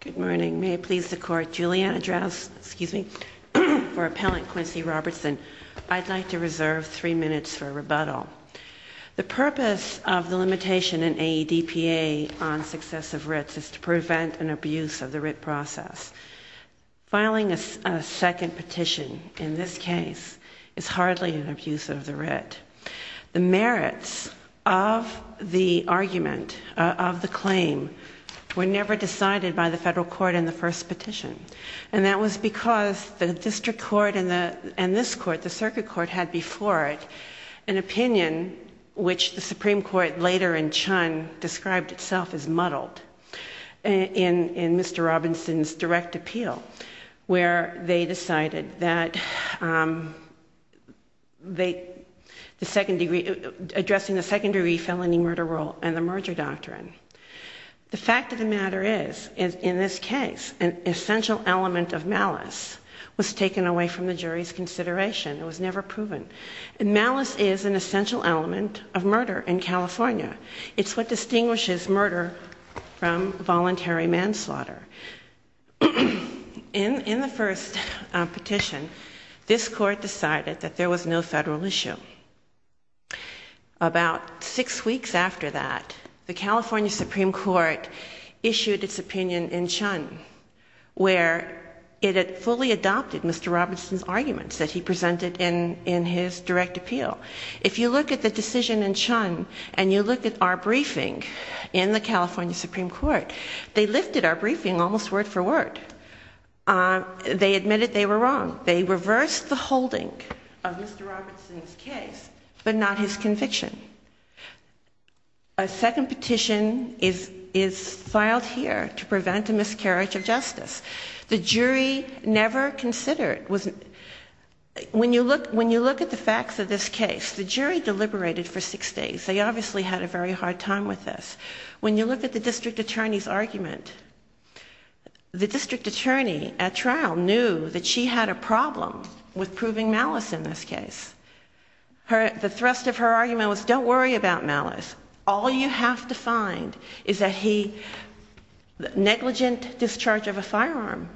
Good morning. May it please the Court, Julianna Drouse, excuse me, for Appellant Quincy Robertson, I'd like to reserve three minutes for rebuttal. The purpose of the limitation in AEDPA on successive writs is to prevent an abuse of the writ process. Filing a second petition in this case is hardly an abuse of the writ. The merits of the argument, of the claim, were never decided by the federal court in the first petition. And that was because the district court and this court, the circuit court, had before it an opinion which the Supreme Court later in Chun described itself as muddled. In Mr. Robinson's direct appeal, where they decided that addressing the second degree felony murder rule and the merger doctrine. The fact of the matter is, in this case, an essential element of malice was taken away from the jury's consideration. It was never proven. Malice is an essential element of murder in California. It's what distinguishes murder from voluntary manslaughter. In the first petition, this court decided that there was no federal issue. About six weeks after that, the California Supreme Court issued its opinion in Chun, where it had fully adopted Mr. Robinson's arguments that he presented in his direct appeal. If you look at the decision in Chun, and you look at our briefing in the California Supreme Court, they lifted our briefing almost word for word. They admitted they were wrong. They reversed the holding of Mr. Robinson's case, but not his conviction. A second petition is filed here to prevent a miscarriage of justice. The jury never considered, when you look at the facts of this case, the jury deliberated for six days. They obviously had a very hard time with this. When you look at the district attorney's argument, the district attorney at trial knew that she had a problem with proving malice in this case. The thrust of her argument was, don't worry about malice. All you have to find is a negligent discharge of a firearm,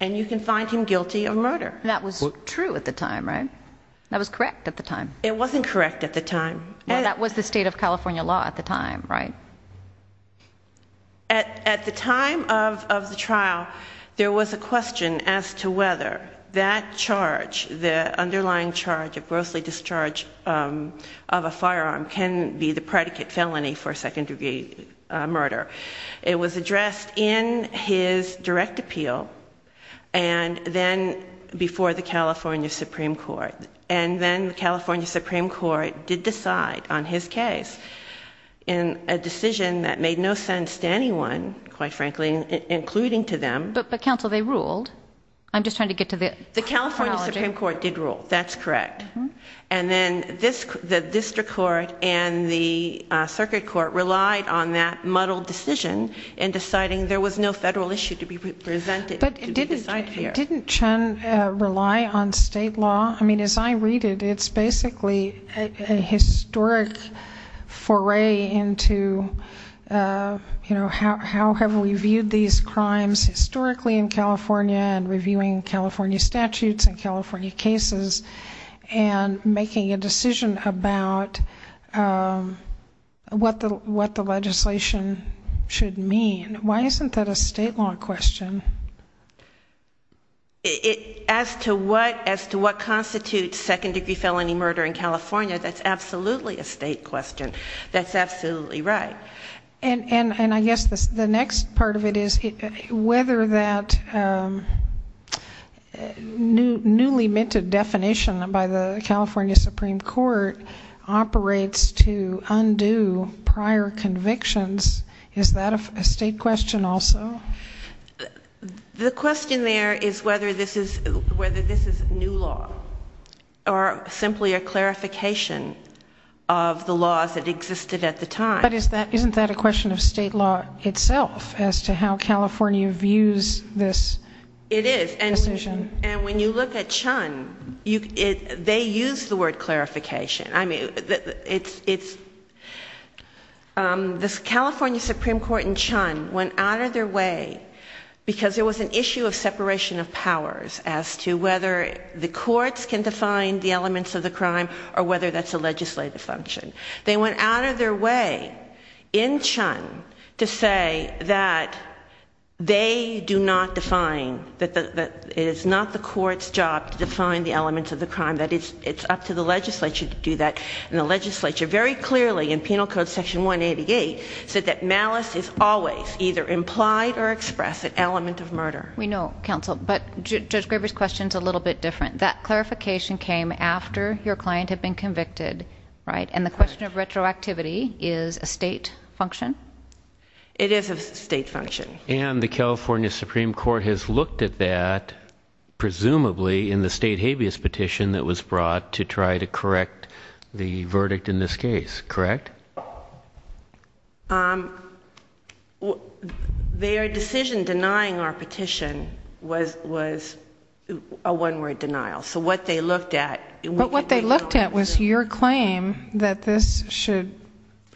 and you can find him guilty of murder. That was true at the time, right? That was correct at the time. It wasn't correct at the time. That was the state of California law at the time, right? At the time of the trial, there was a question as to whether that charge, the underlying charge of grossly discharge of a firearm, can be the predicate felony for second-degree murder. It was addressed in his direct appeal, and then before the California Supreme Court. And then the California Supreme Court did decide on his case in a decision that made no sense to anyone, quite frankly, including to them. But counsel, they ruled. I'm just trying to get to the chronology. The California Supreme Court did rule. That's correct. And then the district court and the circuit court relied on that muddled decision in deciding there was no federal issue to be presented. But didn't Chen rely on state law? I mean, as I read it, it's basically a historic foray into how have we viewed these crimes historically in California and reviewing California statutes and California cases and making a decision about what the legislation should mean. Why isn't that a state law question? As to what constitutes second-degree felony murder in California, that's absolutely a state question. That's absolutely right. And I guess the next part of it is whether that newly minted definition by the California Supreme Court operates to undo prior convictions. Is that a state question also? The question there is whether this is new law or simply a clarification of the laws that existed at the time. But isn't that a question of state law itself as to how California views this decision? It is. And when you look at Chen, they use the word clarification. I mean, the California Supreme Court and Chen went out of their way because there was an issue of separation of powers as to whether the courts can define the elements of the crime or whether that's a legislative function. They went out of their way in Chen to say that they do not define, that it is not the court's job to define the elements of the crime, that it's up to the legislature to do that. And the legislature very clearly in Penal Code Section 188 said that malice is always either implied or expressed an element of murder. We know, counsel, but Judge Graber's question is a little bit different. That clarification came after your client had been convicted, right? And the question of retroactivity is a state function? It is a state function. And the California Supreme Court has looked at that, presumably, in the state habeas petition that was brought to try to correct the verdict in this case, correct? Their decision denying our petition was a one-word denial. But what they looked at was your claim that this should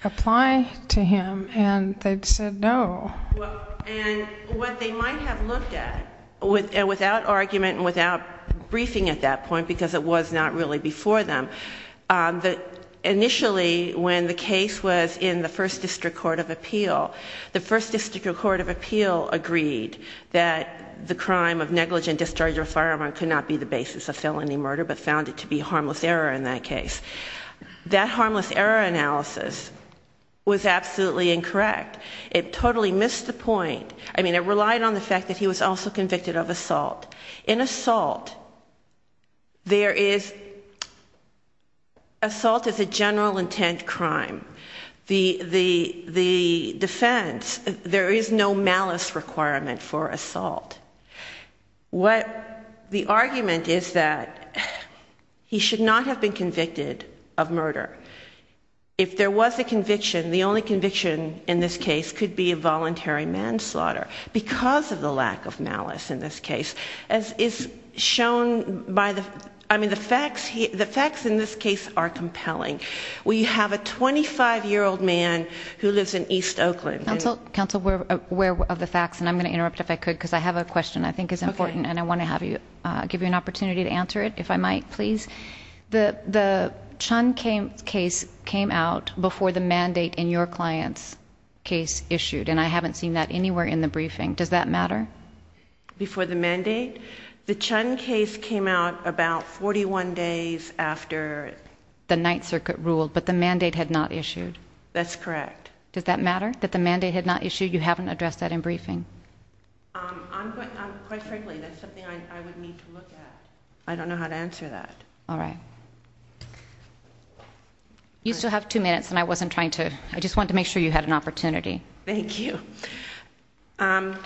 apply to him, and they said no. And what they might have looked at, without argument and without briefing at that point because it was not really before them, initially when the case was in the First District Court of Appeal, the First District Court of Appeal agreed that the crime of negligent discharge of a firearm could not be the basis of felony murder but found it to be harmless error in that case. That harmless error analysis was absolutely incorrect. It totally missed the point. I mean, it relied on the fact that he was also convicted of assault. In assault, assault is a general intent crime. The defense, there is no malice requirement for assault. The argument is that he should not have been convicted of murder. If there was a conviction, the only conviction in this case could be a voluntary manslaughter because of the lack of malice in this case. As is shown by the facts, the facts in this case are compelling. We have a 25-year-old man who lives in East Oakland. Counsel, we're aware of the facts, and I'm going to interrupt if I could because I have a question I think is important, and I want to give you an opportunity to answer it, if I might, please. The Chun case came out before the mandate in your client's case issued, and I haven't seen that anywhere in the briefing. Does that matter? Before the mandate? The Chun case came out about 41 days after the Ninth Circuit ruled, but the mandate had not issued. That's correct. Does that matter, that the mandate had not issued? You haven't addressed that in briefing. Quite frankly, that's something I would need to look at. I don't know how to answer that. All right. You still have two minutes, and I just wanted to make sure you had an opportunity. Thank you. And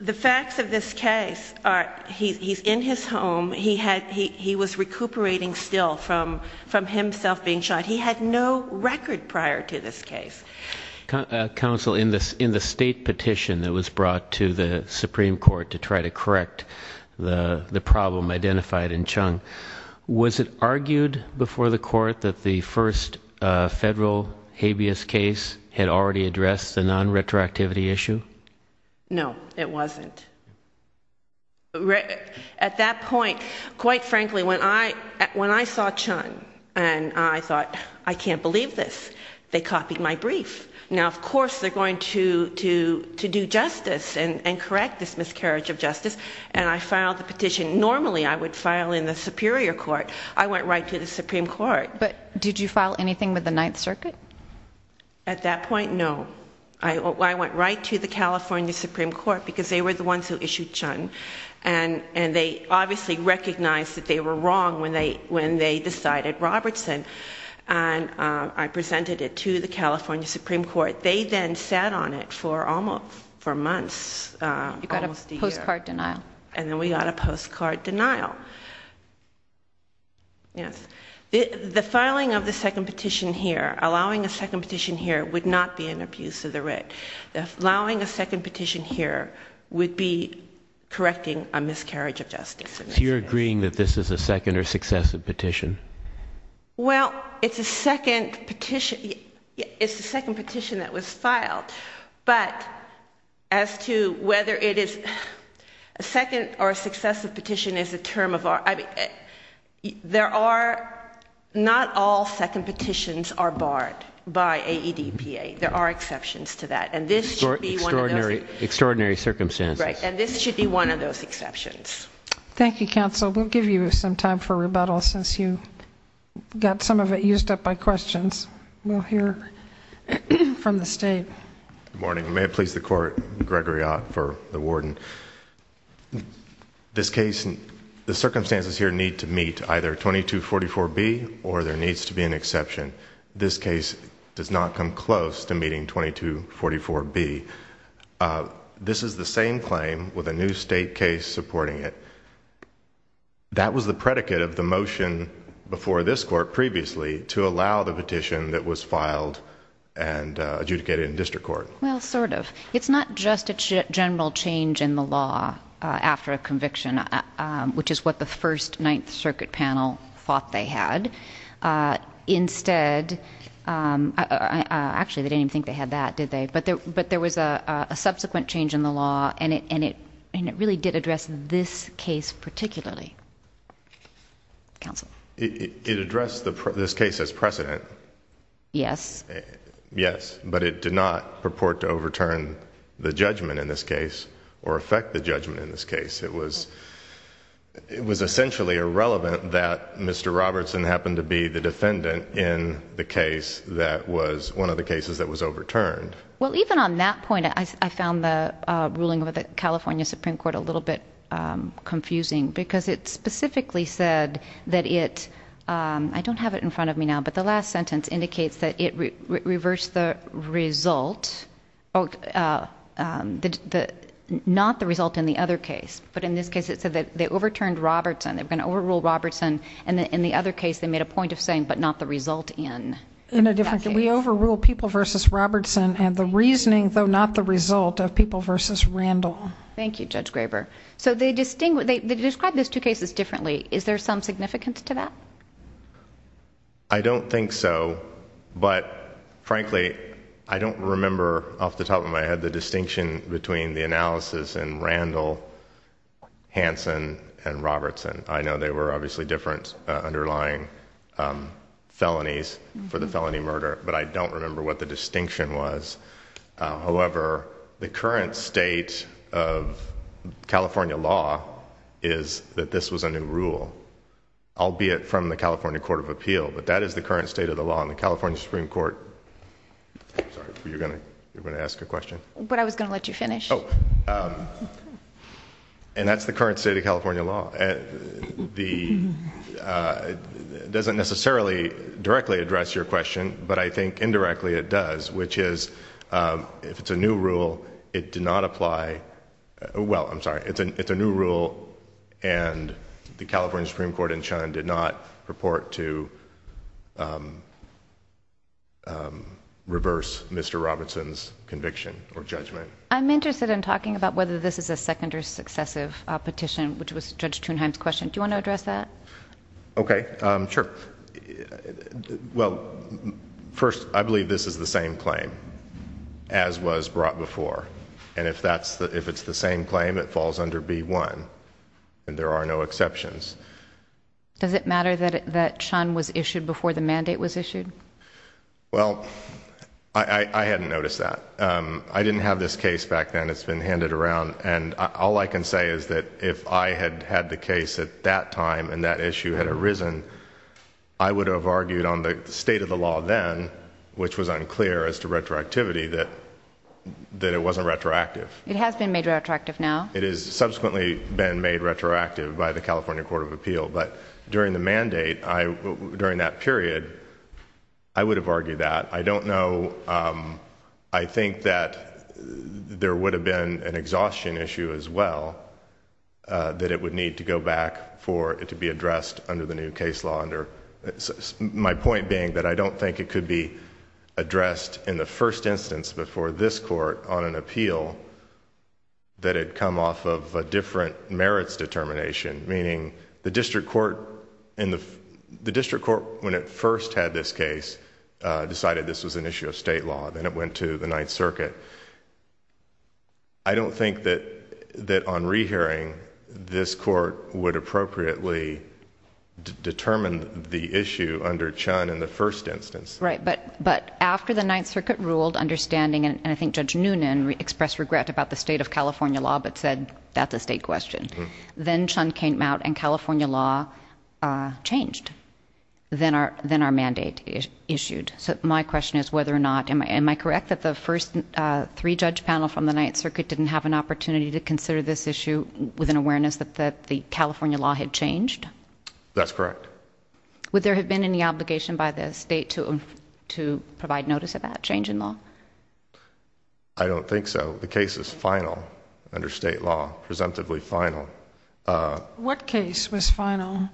the facts of this case are he's in his home. He was recuperating still from himself being shot. He had no record prior to this case. Counsel, in the state petition that was brought to the Supreme Court to try to correct the problem identified in Chun, was it argued before the court that the first federal habeas case had already addressed the non-retroactivity issue? No, it wasn't. At that point, quite frankly, when I saw Chun and I thought, I can't believe this, they copied my brief. Now, of course, they're going to do justice and correct this miscarriage of justice, and I filed the petition. Normally, I would file in the Superior Court. I went right to the Supreme Court. But did you file anything with the Ninth Circuit? At that point, no. I went right to the California Supreme Court because they were the ones who issued Chun, and they obviously recognized that they were wrong when they decided Robertson, and I presented it to the California Supreme Court. They then sat on it for months, almost a year. You got a postcard denial. And then we got a postcard denial. Yes. The filing of the second petition here, allowing a second petition here, would not be an abuse of the writ. Allowing a second petition here would be correcting a miscarriage of justice. So you're agreeing that this is a second or successive petition? Well, it's a second petition that was filed. But as to whether it is a second or successive petition is a term of art. There are not all second petitions are barred by AEDPA. There are exceptions to that, and this should be one of those. Extraordinary circumstances. Right, and this should be one of those exceptions. Thank you, counsel. We'll give you some time for rebuttal since you got some of it used up by questions. We'll hear from the state. Good morning. May it please the court, Gregory Ott for the warden. This case, the circumstances here need to meet either 2244B or there needs to be an exception. This case does not come close to meeting 2244B. This is the same claim with a new state case supporting it. That was the predicate of the motion before this court previously to allow the petition that was filed and adjudicated in district court. Well, sort of. It's not just a general change in the law after a conviction, which is what the first Ninth Circuit panel thought they had. Instead, actually they didn't even think they had that, did they? But there was a subsequent change in the law, and it really did address this case particularly. Counsel. It addressed this case as precedent. Yes. Yes, but it did not purport to overturn the judgment in this case or affect the judgment in this case. It was essentially irrelevant that Mr. Robertson happened to be the defendant in the case that was one of the cases that was overturned. Well, even on that point, I found the ruling of the California Supreme Court a little bit confusing because it specifically said that it, I don't have it in front of me now, but the last sentence indicates that it reversed the result, not the result in the other case, but in this case it said that they overturned Robertson. They were going to overrule Robertson, and in the other case they made a point of saying, but not the result in that case. In a different case. We overruled People v. Robertson and the reasoning, though not the result, of People v. Randall. Thank you, Judge Graber. So they describe those two cases differently. Is there some significance to that? I don't think so. But, frankly, I don't remember off the top of my head the distinction between the analysis in Randall, Hanson, and Robertson. I know they were obviously different underlying felonies for the felony murder, but I don't remember what the distinction was. However, the current state of California law is that this was a new rule. Albeit from the California Court of Appeal, but that is the current state of the law in the California Supreme Court. I'm sorry, were you going to ask a question? But I was going to let you finish. And that's the current state of California law. It doesn't necessarily directly address your question, but I think indirectly it does, which is if it's a new rule, it did not apply. Well, I'm sorry, it's a new rule, and the California Supreme Court in Chun did not purport to reverse Mr. Robertson's conviction or judgment. I'm interested in talking about whether this is a second or successive petition, which was Judge Thunheim's question. Do you want to address that? Okay, sure. Well, first, I believe this is the same claim as was brought before. And if it's the same claim, it falls under B-1, and there are no exceptions. Does it matter that Chun was issued before the mandate was issued? Well, I hadn't noticed that. I didn't have this case back then. It's been handed around, and all I can say is that if I had had the case at that time and that issue had arisen, I would have argued on the state of the law then, which was unclear as to retroactivity, that it wasn't retroactive. It has been made retroactive now. It has subsequently been made retroactive by the California Court of Appeal. But during the mandate, during that period, I would have argued that. I don't know... I think that there would have been an exhaustion issue as well, that it would need to go back for it to be addressed under the new case law. My point being that I don't think it could be addressed in the first instance before this court on an appeal that had come off of a different merits determination, meaning the district court, when it first had this case, decided this was an issue of state law. Then it went to the Ninth Circuit. I don't think that on rehearing, this court would appropriately determine the issue under Chun in the first instance. Right, but after the Ninth Circuit ruled understanding, and I think Judge Noonan expressed regret about the state of California law but said that's a state question, then Chun came out and California law changed, then our mandate issued. So my question is whether or not... am I correct that the first three-judge panel from the Ninth Circuit didn't have an opportunity to consider this issue with an awareness that the California law had changed? That's correct. Would there have been any obligation by the state to provide notice of that change in law? I don't think so. The case is final under state law, presumptively final. What case was final?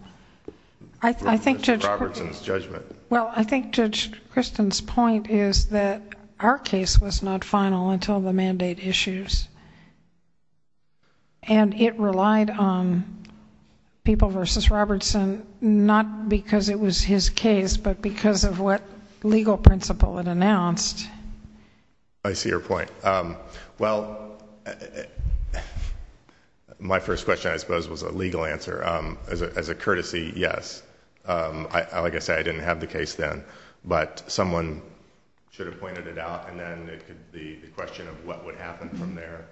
Robertson's judgment. Well, I think Judge Christen's point is that our case was not final until the mandate issues. It relied on People v. Robertson, not because it was his case, but because of what legal principle it announced. I see your point. Well, my first question, I suppose, was a legal answer. As a courtesy, yes. Like I said, I didn't have the case then, but someone should have pointed it out, and then the question of what would happen from there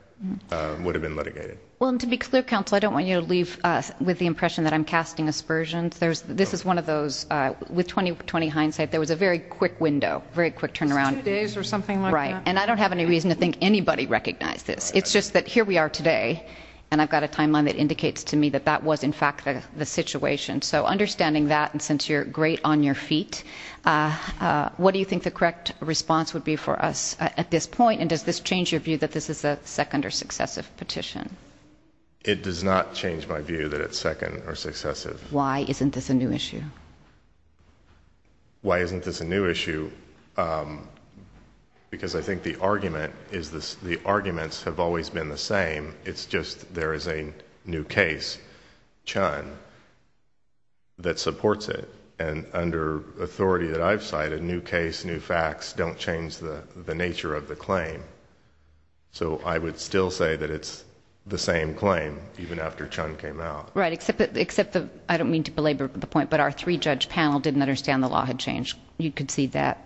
would have been litigated. Well, and to be clear, counsel, I don't want you to leave with the impression that I'm casting aspersions. This is one of those... with 20-20 hindsight, there was a very quick window, very quick turnaround. Two days or something like that. Right, and I don't have any reason to think anybody recognized this. It's just that here we are today, and I've got a timeline that indicates to me that that was, in fact, the situation. So understanding that, and since you're great on your feet, what do you think the correct response would be for us at this point? And does this change your view that this is a second or successive petition? It does not change my view that it's second or successive. Why isn't this a new issue? Why isn't this a new issue? Because I think the arguments have always been the same. It's just there is a new case, Chun, that supports it. And under authority that I've cited, new case, new facts don't change the nature of the claim. So I would still say that it's the same claim, even after Chun came out. Right, except I don't mean to belabor the point, but our three-judge panel didn't understand the law had changed. You could see that.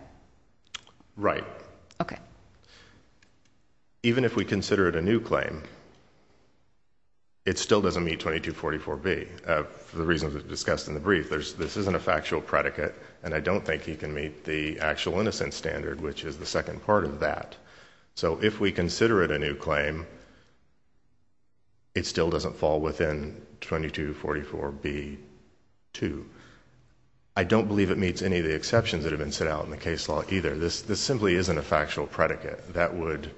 Right. Okay. Even if we consider it a new claim, it still doesn't meet 2244B. For the reasons discussed in the brief, this isn't a factual predicate, and I don't think he can meet the actual innocence standard, which is the second part of that. So if we consider it a new claim, it still doesn't fall within 2244B too. I don't believe it meets any of the exceptions that have been set out in the case law either. This simply isn't a factual predicate. That would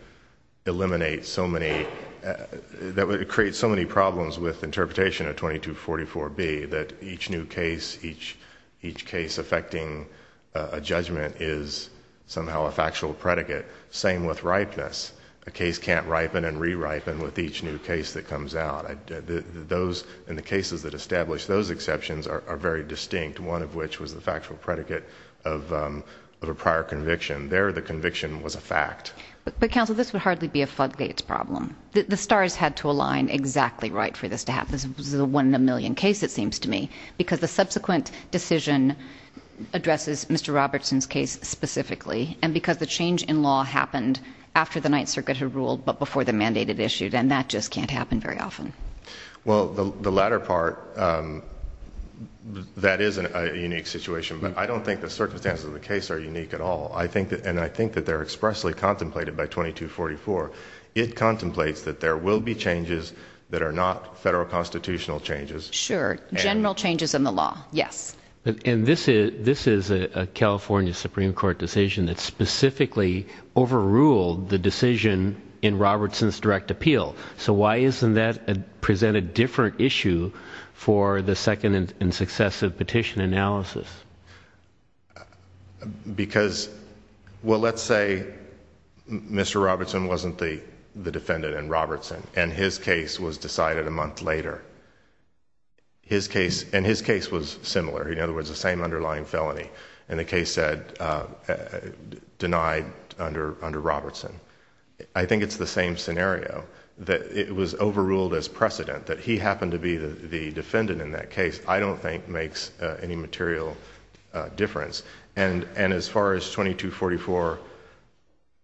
eliminate so many—that would create so many problems with interpretation of 2244B, that each new case, each case affecting a judgment is somehow a factual predicate. Same with ripeness. A case can't ripen and re-ripen with each new case that comes out. Those—and the cases that establish those exceptions are very distinct, one of which was the factual predicate of a prior conviction. There, the conviction was a fact. But, counsel, this would hardly be a floodgates problem. The stars had to align exactly right for this to happen. This is a one-in-a-million case, it seems to me, because the subsequent decision addresses Mr. Robertson's case specifically, and because the change in law happened after the Ninth Circuit had ruled, but before the mandate had issued. And that just can't happen very often. Well, the latter part, that is a unique situation. But I don't think the circumstances of the case are unique at all. And I think that they're expressly contemplated by 2244. It contemplates that there will be changes that are not federal constitutional changes. Sure. General changes in the law. Yes. And this is a California Supreme Court decision that specifically overruled the decision in Robertson's direct appeal. So why isn't that present a different issue for the second and successive petition analysis? Because—well, let's say Mr. Robertson wasn't the defendant in Robertson, and his case was decided a month later. And his case was similar. In other words, the same underlying felony. And the case said, denied under Robertson. I think it's the same scenario, that it was overruled as precedent, that he happened to be the defendant in that case, I don't think makes any material difference. And as far as 2244,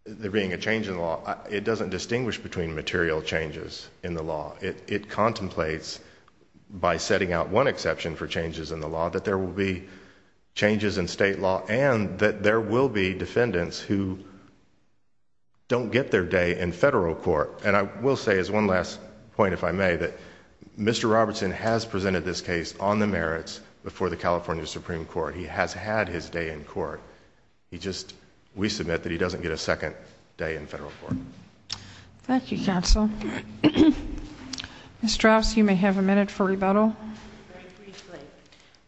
there being a change in law, it doesn't distinguish between material changes in the law. It contemplates, by setting out one exception for changes in the law, that there will be changes in state law, and that there will be defendants who don't get their day in federal court. And I will say, as one last point, if I may, that Mr. Robertson has presented this case on the merits before the California Supreme Court. He has had his day in court. We submit that he doesn't get a second day in federal court. Thank you, counsel. Ms. Strauss, you may have a minute for rebuttal. Very briefly.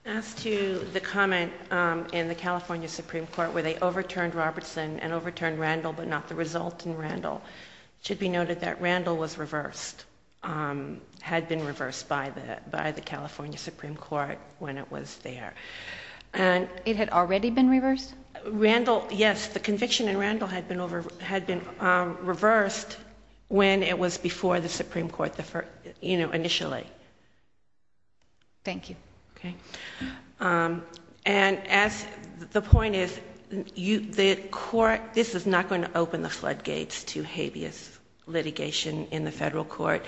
As to the comment in the California Supreme Court where they overturned Robertson and overturned Randall but not the result in Randall, it should be noted that Randall was reversed, had been reversed by the California Supreme Court when it was there. It had already been reversed? Randall, yes, the conviction in Randall had been reversed when it was before the Supreme Court initially. Thank you. Okay. And as the point is, the court, this is not going to open the floodgates to habeas litigation in the federal court,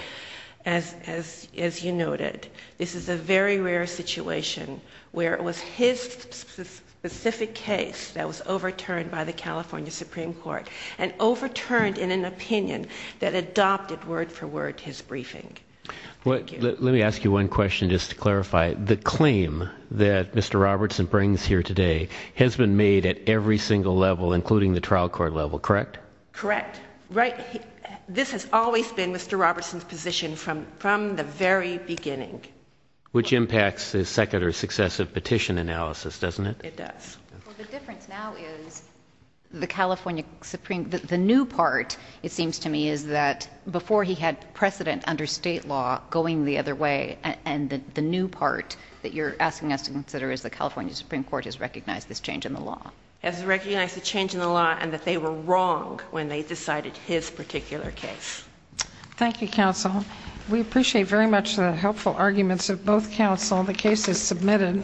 as you noted. This is a very rare situation where it was his specific case that was overturned by the California Supreme Court and overturned in an opinion that adopted word for word his briefing. Thank you. Let me ask you one question just to clarify. The claim that Mr. Robertson brings here today has been made at every single level, including the trial court level, correct? Correct. This has always been Mr. Robertson's position from the very beginning. Which impacts his second or successive petition analysis, doesn't it? It does. Well, the difference now is the California Supreme, the new part, it seems to me, is that before he had precedent under state law going the other way and the new part that you're asking us to consider is the California Supreme Court has recognized this change in the law. Has recognized the change in the law and that they were wrong when they decided his particular case. Thank you, counsel. We appreciate very much the helpful arguments of both counsel. The case is submitted.